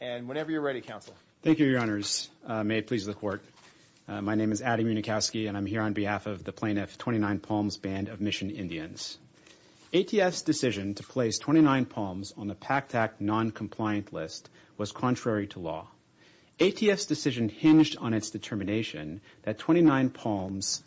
And whenever you're ready, Counsel. Thank you, Your Honors. May it please the Court. My name is Adam Unikowski, and I'm here on behalf of the plaintiff, Twenty-Nine Palms Band of Mission Indians. ATF's decision to place Twenty-Nine Palms on the PACT Act noncompliant list was contrary to law. ATF's decision hinged on its determination that Twenty-Nine Palms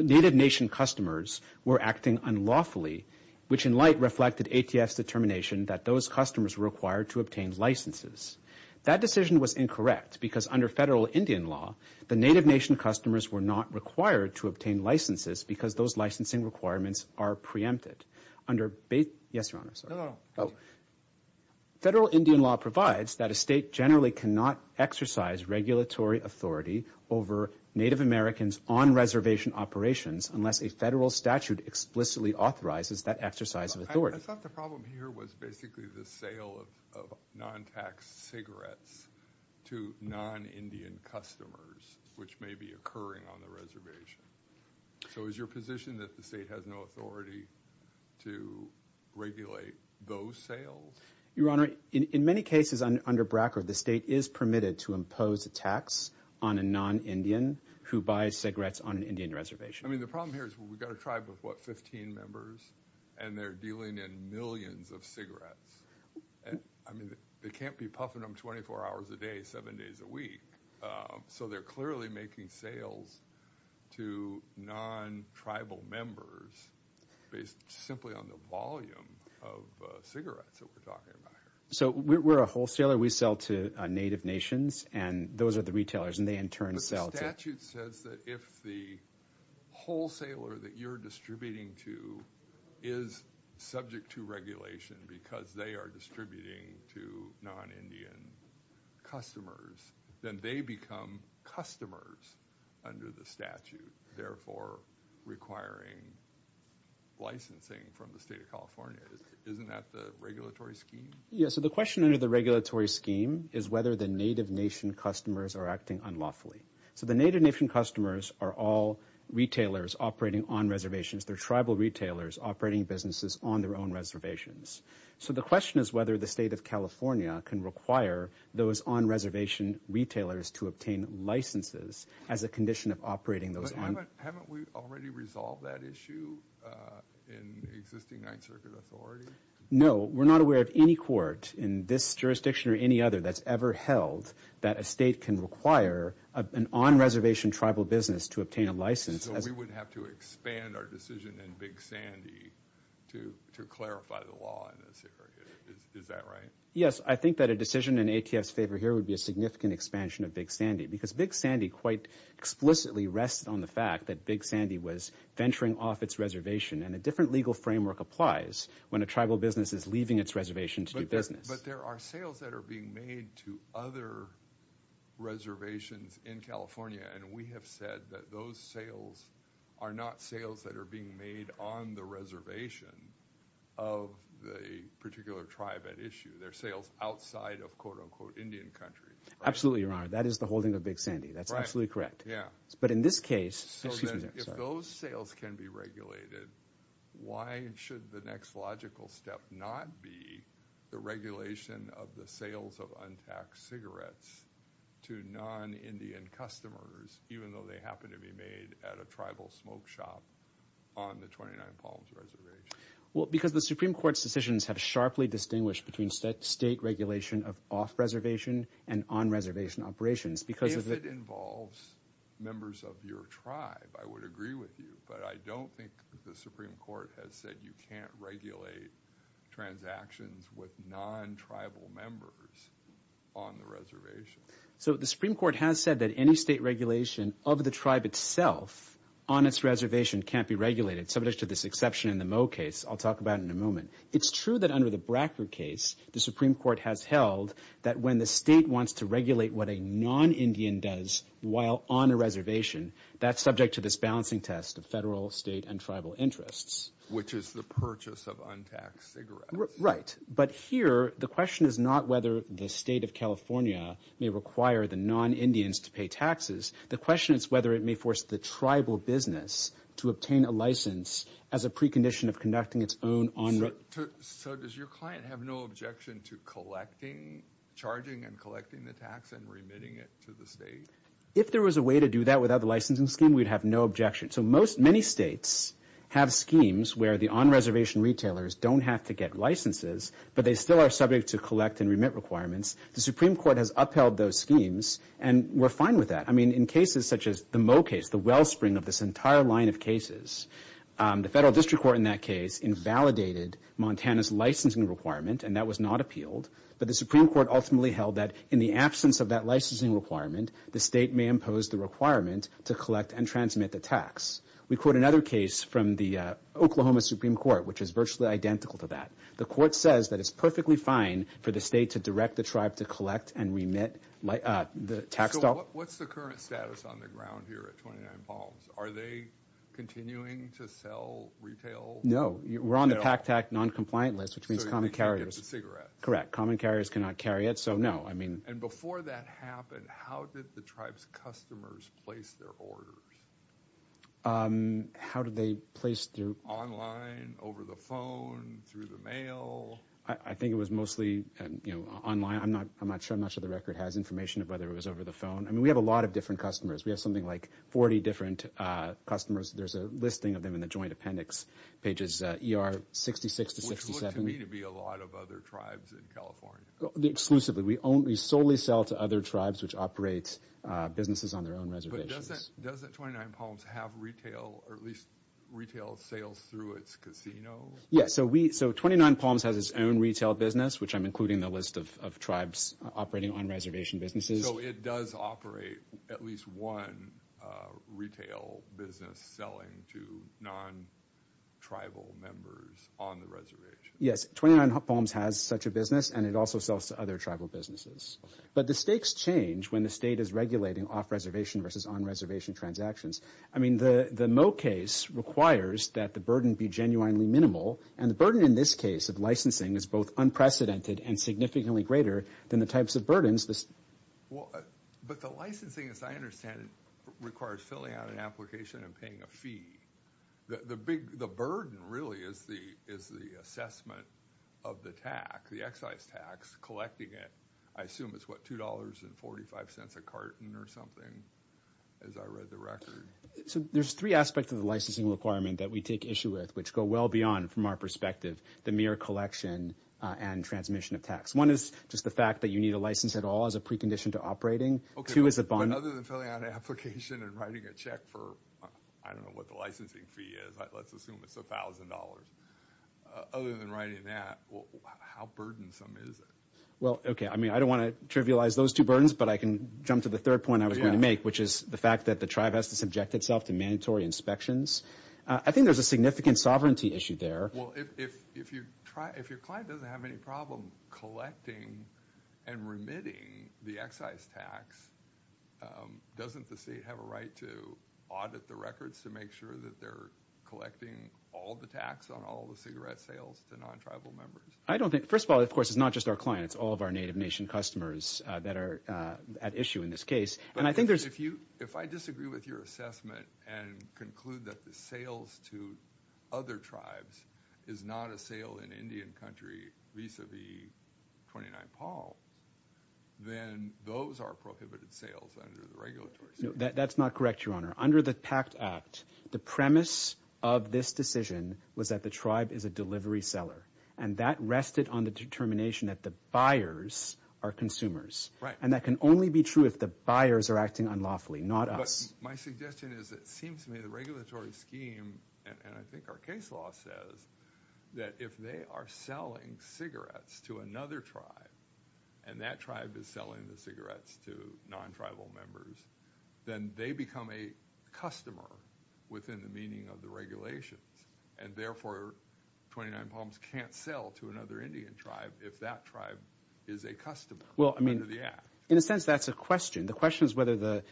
Native Nation customers were acting unlawfully which in light reflected ATF's determination that those customers were required to obtain licenses. That decision was incorrect because under federal Indian law, the Native Nation customers were not required to obtain licenses because those licensing requirements are preempted. Under, yes, Your Honor, sorry. Federal Indian law provides that a state generally cannot exercise regulatory authority over Native Americans on-reservation operations unless a federal statute explicitly authorizes that exercise of authority. I thought the problem here was basically the sale of non-tax cigarettes to non-Indian customers which may be occurring on the reservation. So is your position that the state has no authority to regulate those sales? Your Honor, in many cases under BRACA, the state is permitted to impose a tax on a non-Indian who buys cigarettes on an Indian reservation. The problem here is we've got a tribe of, what, 15 members and they're dealing in millions of cigarettes. I mean, they can't be puffing them 24 hours a day, seven days a week. So they're clearly making sales to non-tribal members based simply on the volume of cigarettes that we're talking about here. So we're a wholesaler. We sell to Native Nations and those are the retailers and they in turn sell to... But the statute says that if the wholesaler that you're distributing to is subject to regulation because they are distributing to non-Indian customers, then they become customers under the statute, therefore requiring licensing from the state of California. Isn't that the regulatory scheme? Yeah, so the question under the regulatory scheme is whether the Native Nation customers are acting unlawfully. So the Native Nation customers are all retailers operating on reservations. They're tribal retailers operating businesses on their own reservations. So the question is whether the state of California can require those on-reservation retailers to obtain licenses as a condition of operating those on... But haven't we already resolved that issue in existing Ninth Circuit authority? No, we're not aware of any court in this jurisdiction or any other that's ever held that a state can require an on-reservation tribal business to obtain a license. So we would have to expand our decision in Big Sandy to clarify the law in this area. Is that right? Yes, I think that a decision in ATF's favor here would be a significant expansion of Big Sandy because Big Sandy quite explicitly rests on the fact that Big Sandy was venturing off its reservation and a different legal framework applies when a tribal business is leaving its reservation to do business. But there are sales that are being made to other reservations in California and we have said that those sales are not sales that are being made on the reservation of the particular tribe at issue. They're sales outside of quote-unquote Indian country. Absolutely, Your Honor. That is the holding of Big Sandy. That's absolutely correct. But in this case... If those sales can be regulated, why should the next logical step not be the regulation of the sales of untaxed cigarettes to non-Indian customers even though they happen to be made at a tribal smoke shop on the 29 Palms Reservation? Well, because the Supreme Court's decisions have sharply distinguished between state regulation of off-reservation and on-reservation operations. If it involves members of your tribe, I would agree with you. But I don't think the Supreme Court has said you can't regulate transactions with non-tribal members on the reservation. So the Supreme Court has said that any state regulation of the tribe itself on its reservation can't be regulated, subject to this exception in the Moe case I'll talk about in a moment. It's true that under the Brackner case, the Supreme Court has held that when the state wants to regulate what a non-Indian does while on a reservation, that's subject to this balancing test of federal, state, and tribal interests. Which is the purchase of untaxed cigarettes. Right. But here, the question is not whether the state of California may require the non-Indians to pay taxes. The question is whether it may force the tribal business to obtain a license as a precondition of conducting its own on-reservation. So does your client have no objection to charging and collecting the tax and remitting it to the state? If there was a way to do that without the licensing scheme, we'd have no objection. So many states have schemes where the on-reservation retailers don't have to get licenses, but they still are subject to collect and remit requirements. The Supreme Court has upheld those schemes, and we're fine with that. In cases such as the Moe case, the wellspring of this entire line of cases, the federal district court in that case invalidated Montana's licensing requirement, and that was not appealed. But the Supreme Court ultimately held that in the absence of that licensing requirement, the state may impose the requirement to collect and transmit the tax. We quote another case from the Oklahoma Supreme Court, which is virtually identical to that. The court says that it's perfectly fine for the state to direct the tribe to collect and remit the tax dollars. What's the current status on the ground here at 29 Palms? Are they continuing to sell retail? No. We're on the PAC-TAC non-compliant list, which means common carriers. Correct. Common carriers cannot carry it, so no. And before that happened, how did the tribe's customers place their orders? How did they place them? Online, over the phone, through the mail? I think it was mostly online. I'm not sure the record has information of whether it was over the phone. I mean, we have a lot of different customers. We have something like 40 different customers. There's a listing of them in the joint appendix pages, ER 66 to 67. Which looks to me to be a lot of other tribes in California. Exclusively. We solely sell to other tribes, which operate businesses on their own reservations. But doesn't 29 Palms have retail, or at least retail sales through its casino? Yes. So 29 Palms has its own retail business, which I'm including in the list of tribes operating on-reservation businesses. So it does operate at least one retail business selling to non-tribal members on the reservation? Yes. 29 Palms has such a business, and it also sells to other tribal businesses. But the stakes change when the state is regulating off-reservation versus on-reservation transactions. I mean, the Moe case requires that the burden be genuinely minimal. And the burden in this case of licensing is both unprecedented and significantly greater than the types of burdens. But the licensing, as I understand it, requires filling out an application and paying a fee. The burden really is the assessment of the tax, the excise tax. I assume it's, what, $2.45 a carton or something, as I read the record. So there's three aspects of the licensing requirement that we take issue with, which go well beyond, from our perspective, the mere collection and transmission of tax. One is just the fact that you need a license at all as a precondition to operating. But other than filling out an application and writing a check for, I don't know what the licensing fee is, let's assume it's $1,000. Other than writing that, how burdensome is it? Well, okay, I mean, I don't want to trivialize those two burdens, but I can jump to the third point I was going to make, which is the fact that the tribe has to subject itself to mandatory inspections. I think there's a significant sovereignty issue there. Well, if your client doesn't have any problem collecting and remitting the excise tax, doesn't the state have a right to audit the records to make sure that they're collecting all the tax on all the cigarette sales to non-tribal members? First of all, of course, it's not just our clients. It's all of our Native Nation customers that are at issue in this case. But if I disagree with your assessment and conclude that the sales to other tribes is not a sale in Indian country vis-a-vis 29 Paul, then those are prohibited sales under the regulatory system. No, that's not correct, Your Honor. Under the PACT Act, the premise of this decision was that the tribe is a delivery seller. And that rested on the determination that the buyers are consumers. And that can only be true if the buyers are acting unlawfully, not us. But my suggestion is it seems to me the regulatory scheme, and I think our case law says, that if they are selling cigarettes to another tribe, and that tribe is selling the cigarettes to non-tribal members, then they become a customer within the meaning of the regulations. And therefore, 29 Palms can't sell to another Indian tribe if that tribe is a customer. In a sense, that's a question. The question is whether the,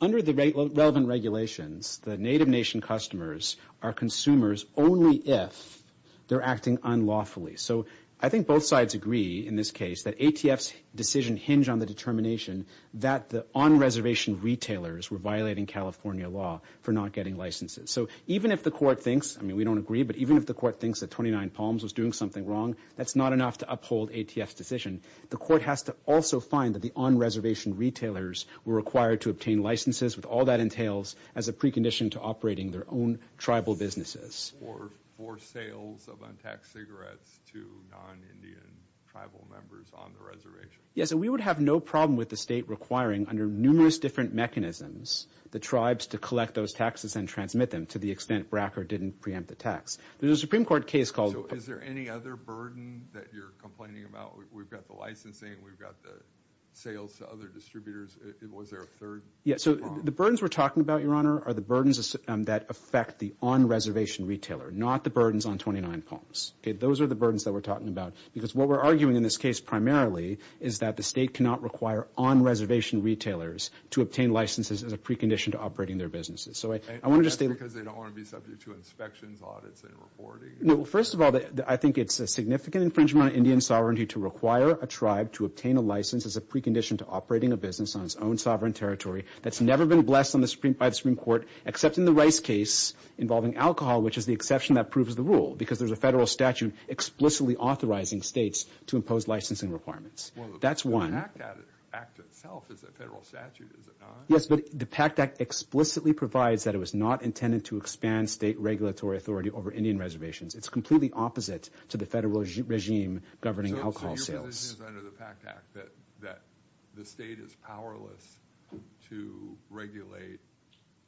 under the relevant regulations, the Native Nation customers are consumers only if they're acting unlawfully. So I think both sides agree in this case that ATF's decision hinge on the determination that the on-reservation retailers were violating California law for not getting licenses. So even if the court thinks, I mean, we don't agree, but even if the court thinks that 29 Palms was doing something wrong, that's not enough to uphold ATF's decision. The court has to also find that the on-reservation retailers were required to obtain licenses with all that entails as a precondition to operating their own tribal businesses. Or for sales of untaxed cigarettes to non-Indian tribal members on the reservation. Yes, and we would have no problem with the state requiring, under numerous different mechanisms, the tribes to collect those taxes and transmit them to the extent BRACA didn't preempt the tax. There's a Supreme Court case called... So is there any other burden that you're complaining about? We've got the licensing. We've got the sales to other distributors. Was there a third problem? Yes, so the burdens we're talking about, Your Honor, are the burdens that affect the on-reservation retailer, not the burdens on 29 Palms. Okay, those are the burdens that we're talking about. Because what we're arguing in this case primarily is that the state cannot require on-reservation retailers to obtain licenses as a precondition to operating their businesses. So I want to just state... And that's because they don't want to be subject to inspections, audits, and reporting. No, well, first of all, I think it's a significant infringement on Indian sovereignty to require a tribe to obtain a license as a precondition to operating a business on its own sovereign territory that's never been blessed by the Supreme Court, except in the Rice case involving alcohol, which is the exception that proves the rule, because there's a federal statute explicitly authorizing states to impose licensing requirements. Well, the PACT Act itself is a federal statute, is it not? Yes, but the PACT Act explicitly provides that it was not intended to expand state regulatory authority over Indian reservations. It's completely opposite to the federal regime governing alcohol sales. So your position is under the PACT Act that the state is powerless to regulate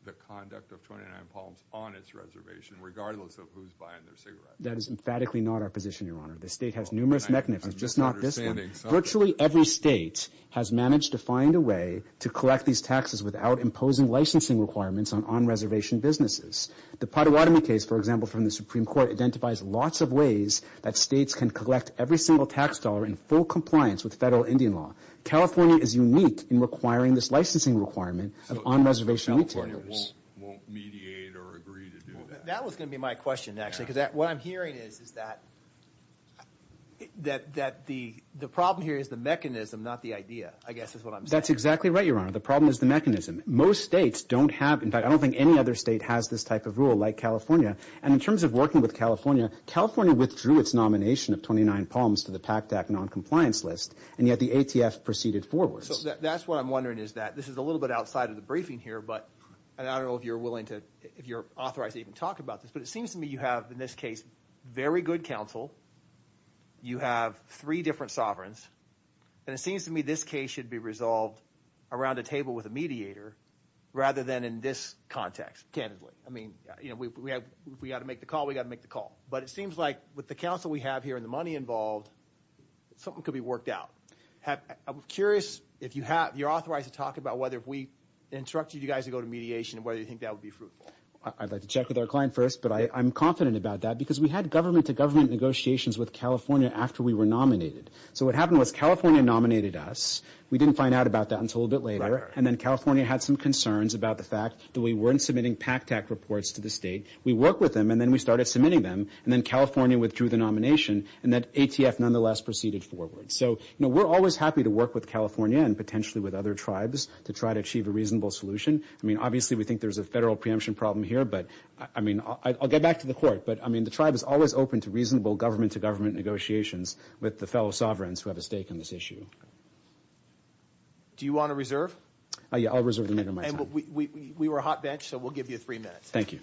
the conduct of 29 Palms on its reservation, regardless of who's buying their cigarettes? That is emphatically not our position, Your Honor. The state has numerous mechanisms, just not this one. Virtually every state has managed to find a way to collect these taxes without imposing licensing requirements on on-reservation businesses. The Pottawatomie case, for example, from the Supreme Court identifies lots of ways that states can collect every single tax dollar in full compliance with federal Indian law. California is unique in requiring this licensing requirement of on-reservation retailers. So California won't mediate or agree to do that? That was going to be my question, actually, because what I'm hearing is that the problem here is the mechanism, not the idea, I guess is what I'm saying. That's exactly right, Your Honor. The problem is the mechanism. Most states don't have, in fact, I don't think any other state has this type of rule, like California. And in terms of working with California, California withdrew its nomination of 29 Palms to the PAC-DAC noncompliance list, and yet the ATF proceeded forward. So that's what I'm wondering is that, this is a little bit outside of the briefing here, but I don't know if you're willing to, if you're authorized to even talk about this, but it seems to me you have, in this case, very good counsel. You have three different sovereigns. And it seems to me this case should be resolved around a table with a mediator, rather than in this context, candidly. I mean, you know, if we got to make the call, we got to make the call. But it seems like with the counsel we have here and the money involved, something could be worked out. I'm curious if you're authorized to talk about whether if we instructed you guys to go to mediation, whether you think that would be fruitful. I'd like to check with our client first, but I'm confident about that, because we had government-to-government negotiations with California after we were nominated. So what happened was California nominated us. We didn't find out about that until a little bit later. And then California had some concerns about the fact that we weren't submitting PAC-DAC reports to the state. We worked with them, and then we started submitting them. And then California withdrew the nomination, and that ATF nonetheless proceeded forward. So, you know, we're always happy to work with California and potentially with other tribes to try to achieve a reasonable solution. I mean, obviously, we think there's a federal preemption problem here, but, I mean, I'll get back to the court. But, I mean, the tribe is always open to reasonable government-to-government negotiations with the fellow sovereigns who have a stake in this issue. Do you want to reserve? Yeah, I'll reserve the meeting of my time. And we were a hot bench, so we'll give you three minutes. Thank you.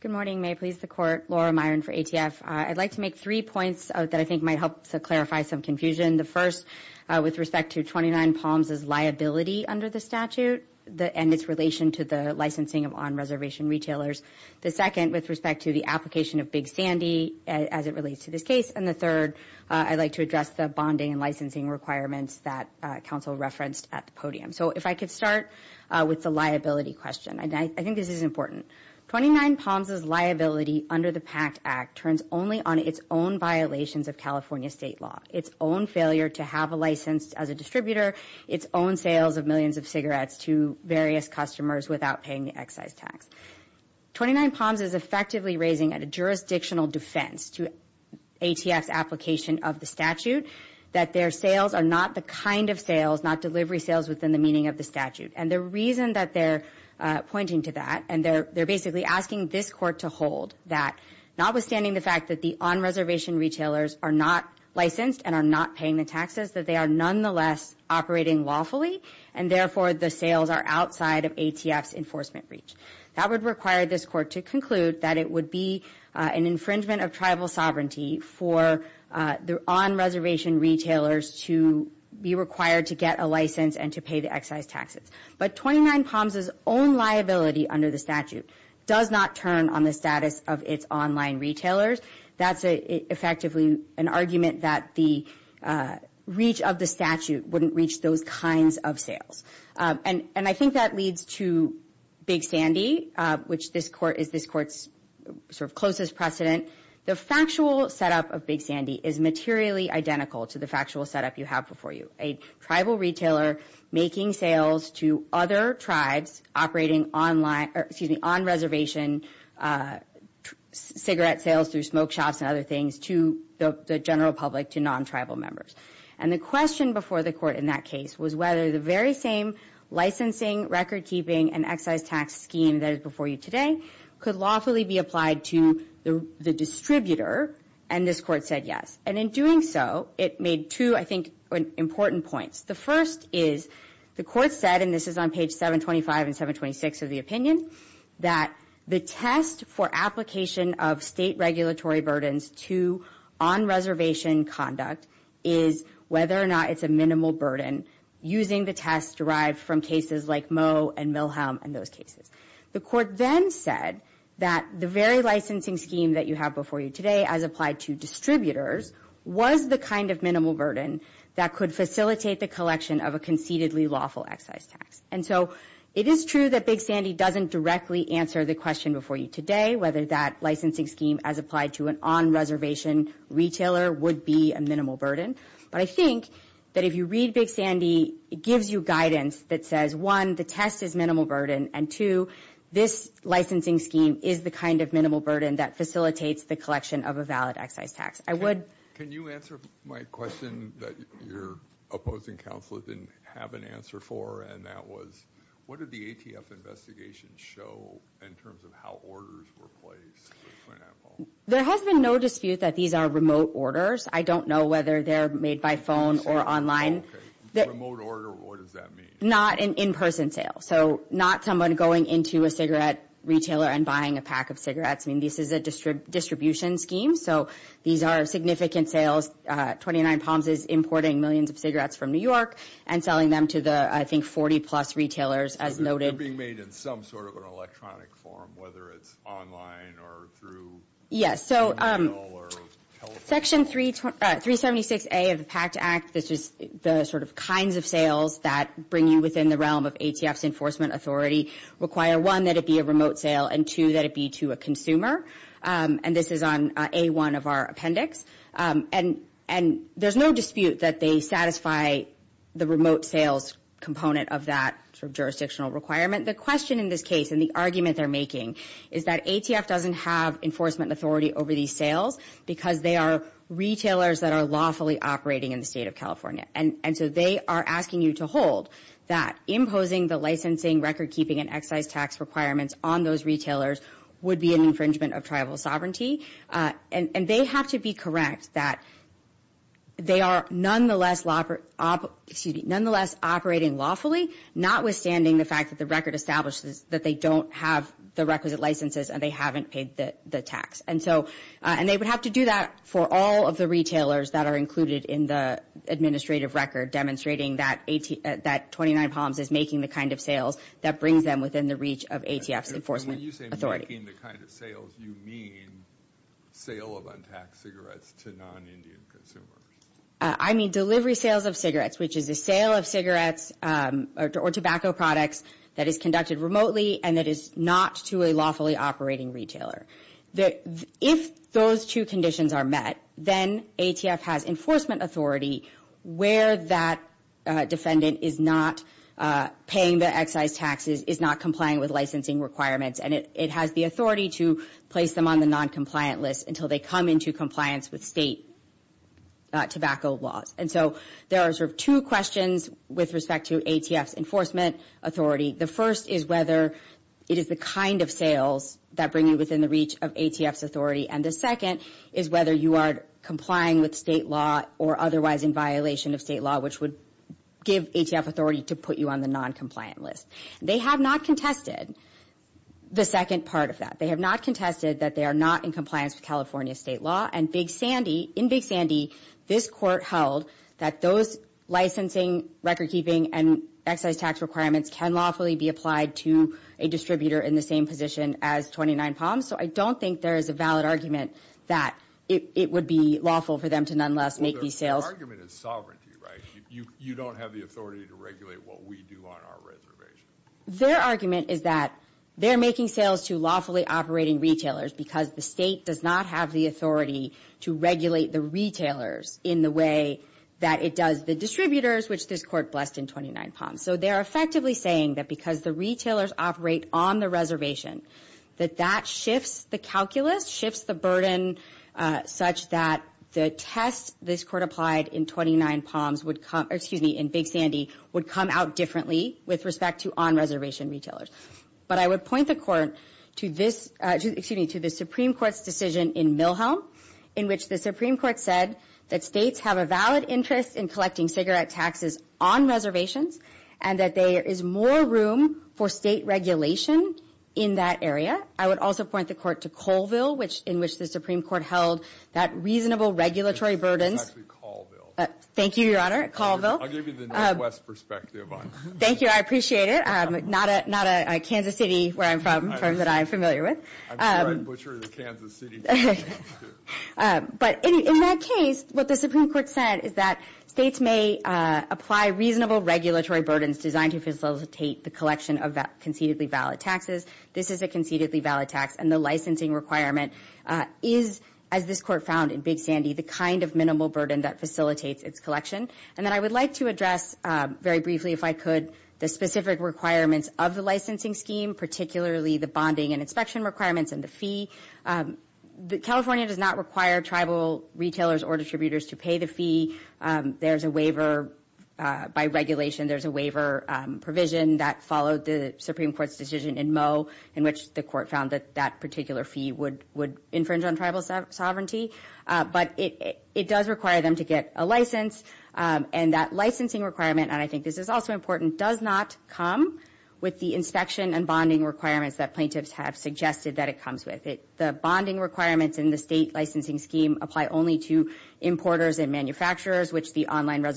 Good morning. May it please the Court, Laura Myron for ATF. I'd like to make three points that I think might help to clarify some confusion. The first, with respect to 29 Palms' liability under the statute and its relation to the licensing of on-reservation retailers. The second, with respect to the application of Big Sandy as it relates to this case. And the third, I'd like to address the bonding and licensing requirements that counsel referenced at the podium. So if I could start with the liability question. I think this is important. 29 Palms' liability under the PACT Act turns only on its own violations of California state law, its own failure to have a license as a distributor, its own sales of millions of cigarettes to various customers without paying the excise tax. 29 Palms is effectively raising at a jurisdictional defense to ATF's application of the statute that their sales are not the kind of sales, not delivery sales within the meaning of the statute. And the reason that they're pointing to that, and they're basically asking this Court to hold that notwithstanding the fact that the on-reservation retailers are not licensed and are not paying the taxes, that they are nonetheless operating lawfully and therefore the sales are outside of ATF's enforcement reach. That would require this Court to conclude that it would be an infringement of tribal sovereignty for the on-reservation retailers to be required to get a license and to pay the excise taxes. But 29 Palms' own liability under the statute does not turn on the status of its online retailers. That's effectively an argument that the reach of the statute wouldn't reach those kinds of sales. And I think that leads to Big Sandy, which is this Court's sort of closest precedent. The factual setup of Big Sandy is materially identical to the factual setup you have before you. A tribal retailer making sales to other tribes operating on-reservation cigarette sales through smoke shops and other things to the general public, to non-tribal members. And the question before the Court in that case was whether the very same licensing, record-keeping, and excise tax scheme that is before you today could lawfully be applied to the distributor. And this Court said yes. And in doing so, it made two, I think, important points. The first is the Court said, and this is on page 725 and 726 of the opinion, that the test for application of state regulatory burdens to on-reservation conduct is whether or not it's a minimal burden using the test derived from cases like Moe and Milhelm and those cases. The Court then said that the very licensing scheme that you have before you today as applied to distributors was the kind of minimal burden that could facilitate the collection of a concededly lawful excise tax. And so it is true that Big Sandy doesn't directly answer the question before you today whether that licensing scheme as applied to an on-reservation retailer would be a minimal burden. But I think that if you read Big Sandy, it gives you guidance that says, one, the test is minimal burden, and two, this licensing scheme is the kind of minimal burden that facilitates the collection of a valid excise tax. I would... Can you answer my question that your opposing counsel didn't have an answer for, and that was, what did the ATF investigation show in terms of how orders were placed, for example? There has been no dispute that these are remote orders. I don't know whether they're made by phone or online. Remote order, what does that mean? Not an in-person sale, so not someone going into a cigarette retailer and buying a pack of cigarettes. I mean, this is a distribution scheme, so these are significant sales. 29 Palms is importing millions of cigarettes from New York and selling them to the, I think, 40-plus retailers, as noted. So they're being made in some sort of an electronic form, whether it's online or through email or telephone? Yes, so Section 376A of the PACT Act, which is the sort of kinds of sales that bring you within the realm of ATF's enforcement authority, require, one, that it be a remote sale, and, two, that it be to a consumer. And this is on A1 of our appendix. And there's no dispute that they satisfy the remote sales component of that jurisdictional requirement. The question in this case, and the argument they're making, is that ATF doesn't have enforcement authority over these sales because they are retailers that are lawfully operating in the state of California. And so they are asking you to hold that imposing the licensing, record-keeping, and excise tax requirements on those retailers would be an infringement of tribal sovereignty. And they have to be correct that they are nonetheless operating lawfully, notwithstanding the fact that the record establishes that they don't have the requisite licenses and they haven't paid the tax. And they would have to do that for all of the retailers that are included in the administrative record demonstrating that 29 Palms is making the kind of sales that brings them within the reach of ATF's enforcement authority. And when you say making the kind of sales, you mean sale of untaxed cigarettes to non-Indian consumers. I mean delivery sales of cigarettes, which is a sale of cigarettes or tobacco products that is conducted remotely and that is not to a lawfully operating retailer. If those two conditions are met, then ATF has enforcement authority where that defendant is not paying the excise taxes, is not complying with licensing requirements, and it has the authority to place them on the non-compliant list until they come into compliance with state tobacco laws. And so there are sort of two questions with respect to ATF's enforcement authority. The first is whether it is the kind of sales that bring you within the reach of ATF's authority. And the second is whether you are complying with state law or otherwise in violation of state law, which would give ATF authority to put you on the non-compliant list. They have not contested the second part of that. They have not contested that they are not in compliance with California state law. And in Big Sandy, this court held that those licensing, record keeping, and excise tax requirements can lawfully be applied to a distributor in the same position as 29 Palms. So I don't think there is a valid argument that it would be lawful for them to nonetheless make these sales. Well, their argument is sovereignty, right? You don't have the authority to regulate what we do on our reservation. Their argument is that they're making sales to lawfully operating retailers because the state does not have the authority to regulate the retailers in the way that it does the distributors, which this court blessed in 29 Palms. So they're effectively saying that because the retailers operate on the reservation, that that shifts the calculus, shifts the burden such that the test this court applied in 29 Palms would come, excuse me, in Big Sandy, would come out differently with respect to on-reservation retailers. But I would point the court to this, excuse me, to the Supreme Court's decision in Milhelm, in which the Supreme Court said that states have a valid interest in collecting cigarette taxes on reservations and that there is more room for state regulation in that area. I would also point the court to Colville, in which the Supreme Court held that reasonable regulatory burdens. This is actually Colville. Thank you, Your Honor, Colville. I'll give you the Northwest perspective on it. Thank you, I appreciate it. Not a Kansas City where I'm from that I'm familiar with. I'm the red butcher of the Kansas City. But in that case, what the Supreme Court said is that states may apply reasonable regulatory burdens to collect cigarette taxes. This is a concededly valid tax and the licensing requirement is, as this court found in Big Sandy, the kind of minimal burden that facilitates its collection. And then I would like to address, very briefly if I could, the specific requirements of the licensing scheme, particularly the bonding and inspection requirements and the fee. California does not require tribal retailers or distributors to pay the fee. There was a case in Moe in which the court found that that particular fee would infringe on tribal sovereignty. But it does require them to get a license. And that licensing requirement, and I think this is also important, does not come with the inspection and bonding requirements that plaintiffs have suggested that it comes with. The bonding requirements in the state licensing scheme apply only to importers who have a regular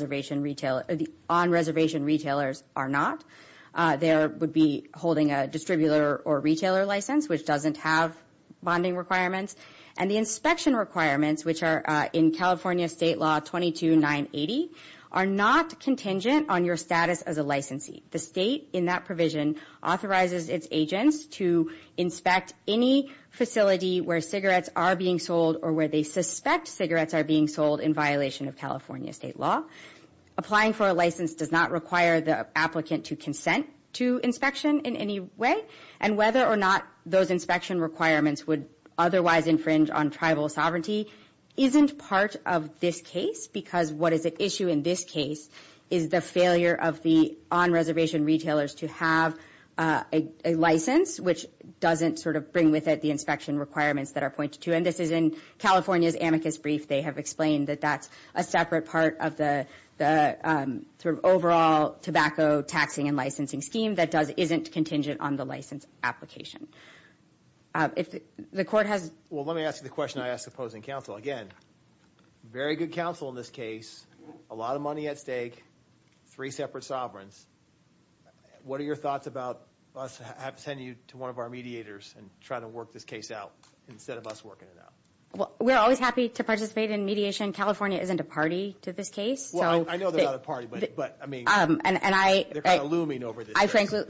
or retailer license which doesn't have bonding requirements. And the inspection requirements, which are in California State Law 22980, are not contingent on your status as a licensee. The state, in that provision, authorizes its agents to inspect any facility where cigarettes are being sold or where they suspect cigarettes are being sold in violation of California State Law. Applying for a license does not require the applicant to consent to inspection in any way. And whether or not those inspection requirements would otherwise infringe on tribal sovereignty isn't part of this case because what is at issue in this case is the failure of the on-reservation retailers to have a license which doesn't sort of bring with it the inspection requirements that are pointed to. And this is in California's amicus brief. They have explained that there is an overall tobacco taxing and licensing scheme that isn't contingent on the license application. If the court has... Well, let me ask the question I ask opposing counsel again. Very good counsel in this case. A lot of money at stake. Three separate sovereigns. What are your thoughts about us sending you to one of our mediators and trying to work this case out instead of us working it out? I mean, they're kind of looming over this. I frankly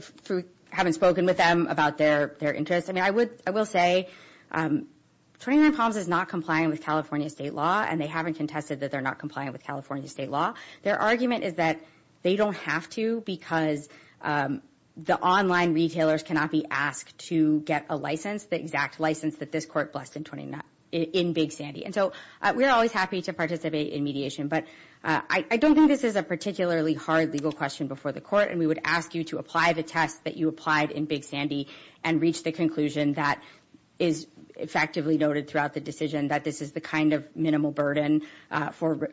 haven't spoken with them about their interests. I mean, I will say 29 Palms is not complying with California state law and they haven't contested that they're not complying with California state law. Their argument is that they don't have to because the online retailers cannot be asked to get a license, the exact license that this court blessed in Big Sandy. And so we're always happy to participate in mediation, but I don't think this is a particularly hard legal question before the court and we would ask you to apply the test that you applied in Big Sandy and reach the conclusion that is effectively noted throughout the decision that this is the kind of minimal burden on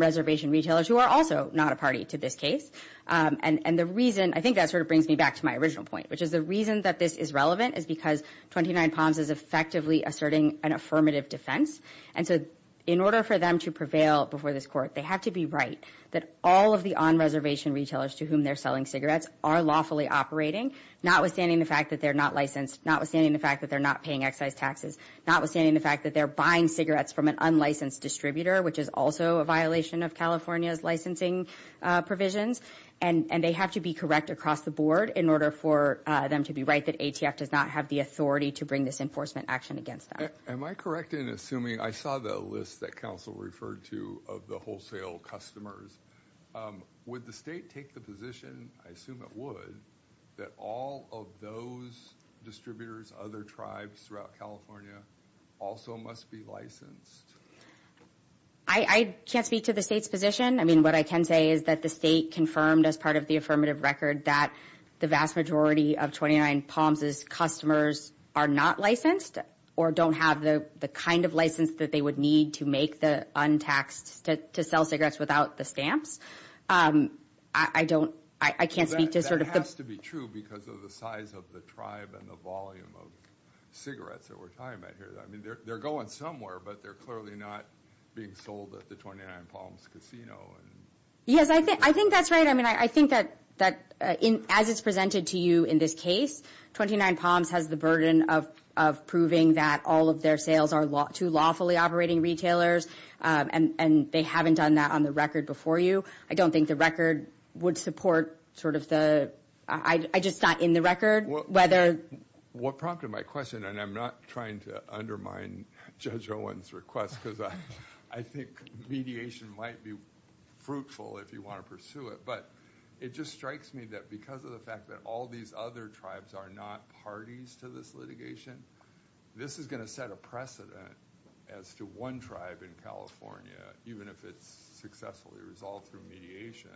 reservation retailers who are also not a party to this case. And the reason, I think that sort of brings me back to my original point, which is the reason that this is relevant is because 29 Palms is effectively asserting an affirmative defense. And so in order for them to prevail before this court, they have to be right that all of the on-reservation retailers to whom they're selling cigarettes are lawfully operating, notwithstanding the fact that they're not licensed, notwithstanding the fact that they're not paying excise taxes, notwithstanding the fact that they're buying cigarettes from an unlicensed distributor, which is also a violation of California's licensing provisions. And they have to be correct across the board in order for them to be right that ATF does not have the authority to bring this enforcement action against them. Am I correct in assuming, I saw the list that counsel referred to of the wholesale customers. Would the state take the position, I assume it would, that all of those distributors, other tribes throughout California also must be licensed? I can't speak to the state's position. I mean, what I can say is that the state confirmed as part of the affirmative record that the vast majority of 29 Palms's customers are not licensed or don't have the kind of license that they would need to make the untaxed, to sell cigarettes without the stamps. I don't, I can't speak to sort of the... That has to be true because of the size of the tribe and the volume of cigarettes that we're talking about here. I mean, they're going somewhere, but they're clearly not being sold at the 29 Palms casino. Yes, I think that's right. I mean, I think that as it's presented to you in this case, 29 Palms has the burden of proving that all of their sales are to lawfully operating retailers, and they haven't done that on the record before you. I don't think the record would support sort of the... I just thought in the record, whether... What prompted my question, and I'm not trying to undermine Judge Owen's request because I think mediation might be fruitful if you want to pursue it, but it just strikes me that because of the fact that all these other tribes are not parties to this litigation, this is going to set a precedent as to one tribe in California, even if it's successfully resolved through mediation,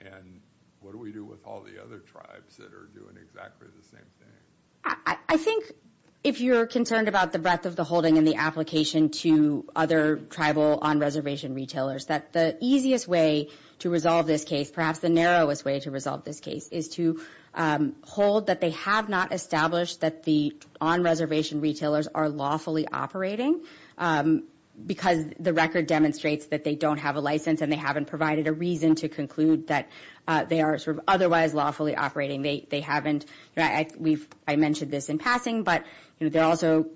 and what do we do with all the other tribes that are doing exactly the same thing? I think if you're concerned about the breadth of the holding and the application to other tribal on-reservation retailers, that the easiest way to resolve this case, perhaps the narrowest way to resolve this case, is to hold that they have not established that the on-reservation retailers are lawfully operating because the record demonstrates that they don't have a license and they haven't provided a reason to conclude that they are otherwise lawfully operating. They haven't... I mentioned this in passing, but they're also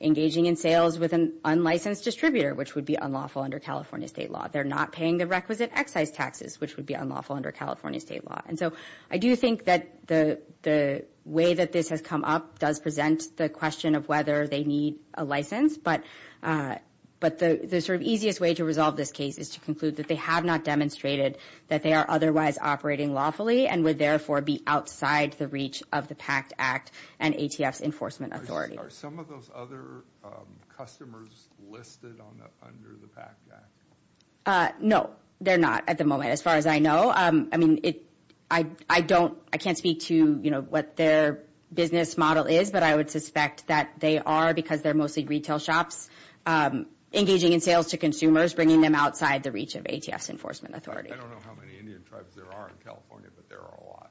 engaging in sales with an unlicensed distributor, which would be unlawful under California state law. They're not paying the requisite excise taxes, which would be unlawful under California state law. And so I do think that the way that this has come up does present the question of whether they need a license, but the sort of easiest way to resolve this case is to conclude that they have not demonstrated that they are otherwise operating lawfully and would therefore be outside the reach of the PACT Act and ATF's enforcement authority. Are some of those other customers listed under the PACT Act? No, they're not at the moment, as far as I know. I mean, I don't... I can't speak to, you know, what their business model is, but I would suspect that they are because they're mostly retail shops, engaging in sales to consumers, bringing them outside the reach of ATF's enforcement authority. I don't know how many Indian tribes there are in California, but there are a lot.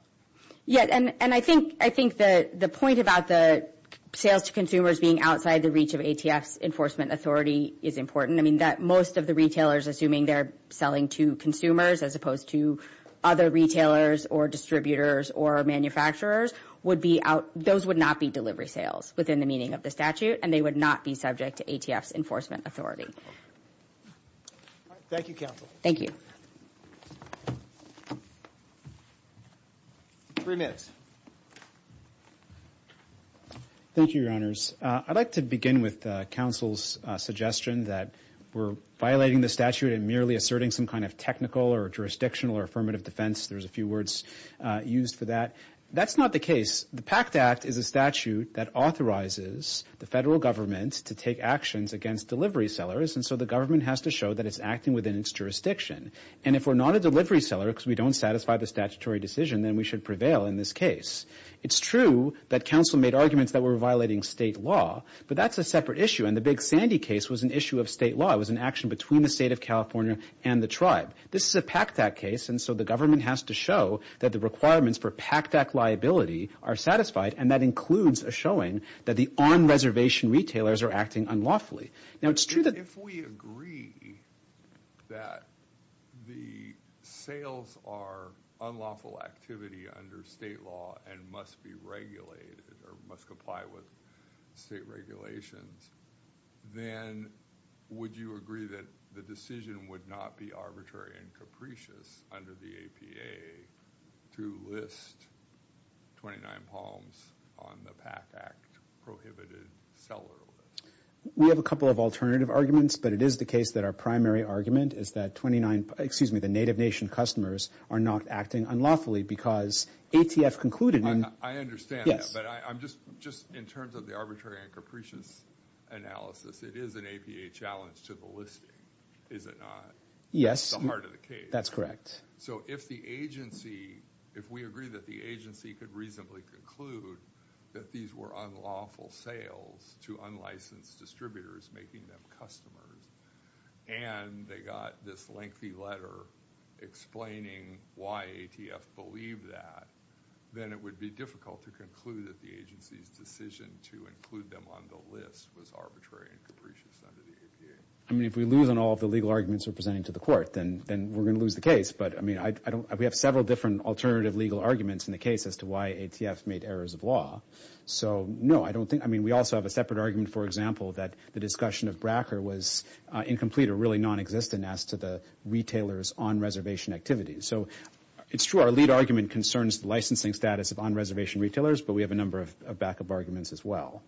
Yeah, and I think the point about the sales to consumers being outside the reach of ATF's enforcement authority is important. I mean, that most of the retailers, assuming they're selling to consumers as opposed to other retailers or distributors or manufacturers, would be out... Those would not be delivery sales within the meaning of the statute, and they would not be subject to ATF's enforcement authority. Thank you, counsel. Thank you. Three minutes. Thank you, Your Honors. I'd like to begin with counsel's suggestion that we're violating the statute and merely asserting some kind of jurisdictional or affirmative defense. There's a few words used for that. That's not the case. The PACT Act is a statute that authorizes the federal government to take actions against delivery sellers, and so the government has to show that it's acting within its jurisdiction. And if we're not a delivery seller because we don't satisfy the statutory decision, then we should prevail in this case. It's true that counsel made arguments that we're violating state law, but that's a separate issue, and the Big Sandy case was an issue of state law. It was an action between the state of California and the tribe. This is a PACT Act case, and so the government has to show that the requirements for PACT Act liability are satisfied, and that includes a showing that the on-reservation retailers are acting unlawfully. Now, it's true that... If we agree that the sales are unlawful activity under state law and must be regulated or must comply with state regulations, then would you agree that the decision would not be arbitrary and capricious under the APA to list 29 palms on the PACT Act prohibited seller list? We have a couple of alternative arguments, but it is the case that our primary argument is that 29... Excuse me, the Native Nation customers are not acting unlawfully because ATF concluded... I understand that, but I'm just... Just in terms of the arbitrary and capricious analysis, it is an APA challenge to the listing, is it not? That's the heart of the case. That's correct. So if the agency... If we agree that the agency could reasonably conclude that these were unlawful sales to unlicensed distributors making them customers and they got this lengthy letter explaining why ATF believed that, then it would be difficult to conclude that the agency's decision to include them on the list was arbitrary and capricious under the APA. I mean, if we lose on all of the legal arguments we're presenting to the court, then we're going to lose the case. But, I mean, I don't... We have several different alternative legal arguments in the case as to why ATF made errors of law. So, no, I don't think... I mean, we also have a separate argument, for example, that the discussion of Bracker was incomplete or really nonexistent as to the retailers' on-reservation activities. So it's true our lead argument concerns the licensing status of on-reservation retailers, but we have a number of backup arguments as well.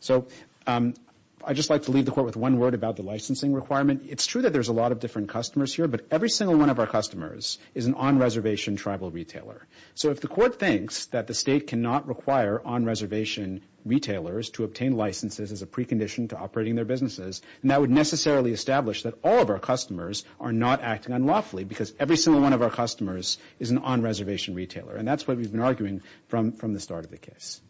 So I'd just like to leave the court with one word about the licensing requirement. It's true that there's a lot of different customers here, but every single one of our customers is an on-reservation tribal retailer. So if the court thinks that the state cannot require on-reservation retailers to obtain licenses as a precondition to operating their businesses, then that would necessarily establish that all of our customers are not acting unlawfully because every single one of our customers is an on-reservation retailer. And that's what we've been arguing from the start of the case.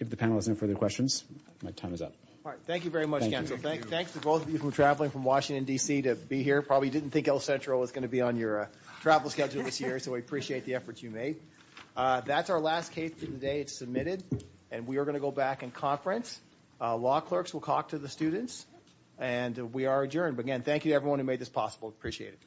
If the panel has no further questions, my time is up. All right, thank you very much, Counsel. Thanks to both of you for traveling from Washington, D.C. to be here. Probably didn't think El Centro was going to be on your travel schedule this year, so we appreciate the efforts you made. That's our last case for the day. It's submitted, and we are going to go back and conference. Law clerks will talk to the students, and we are adjourned. But again, thank you to everyone who made this possible. Appreciate it. All right. Thank you.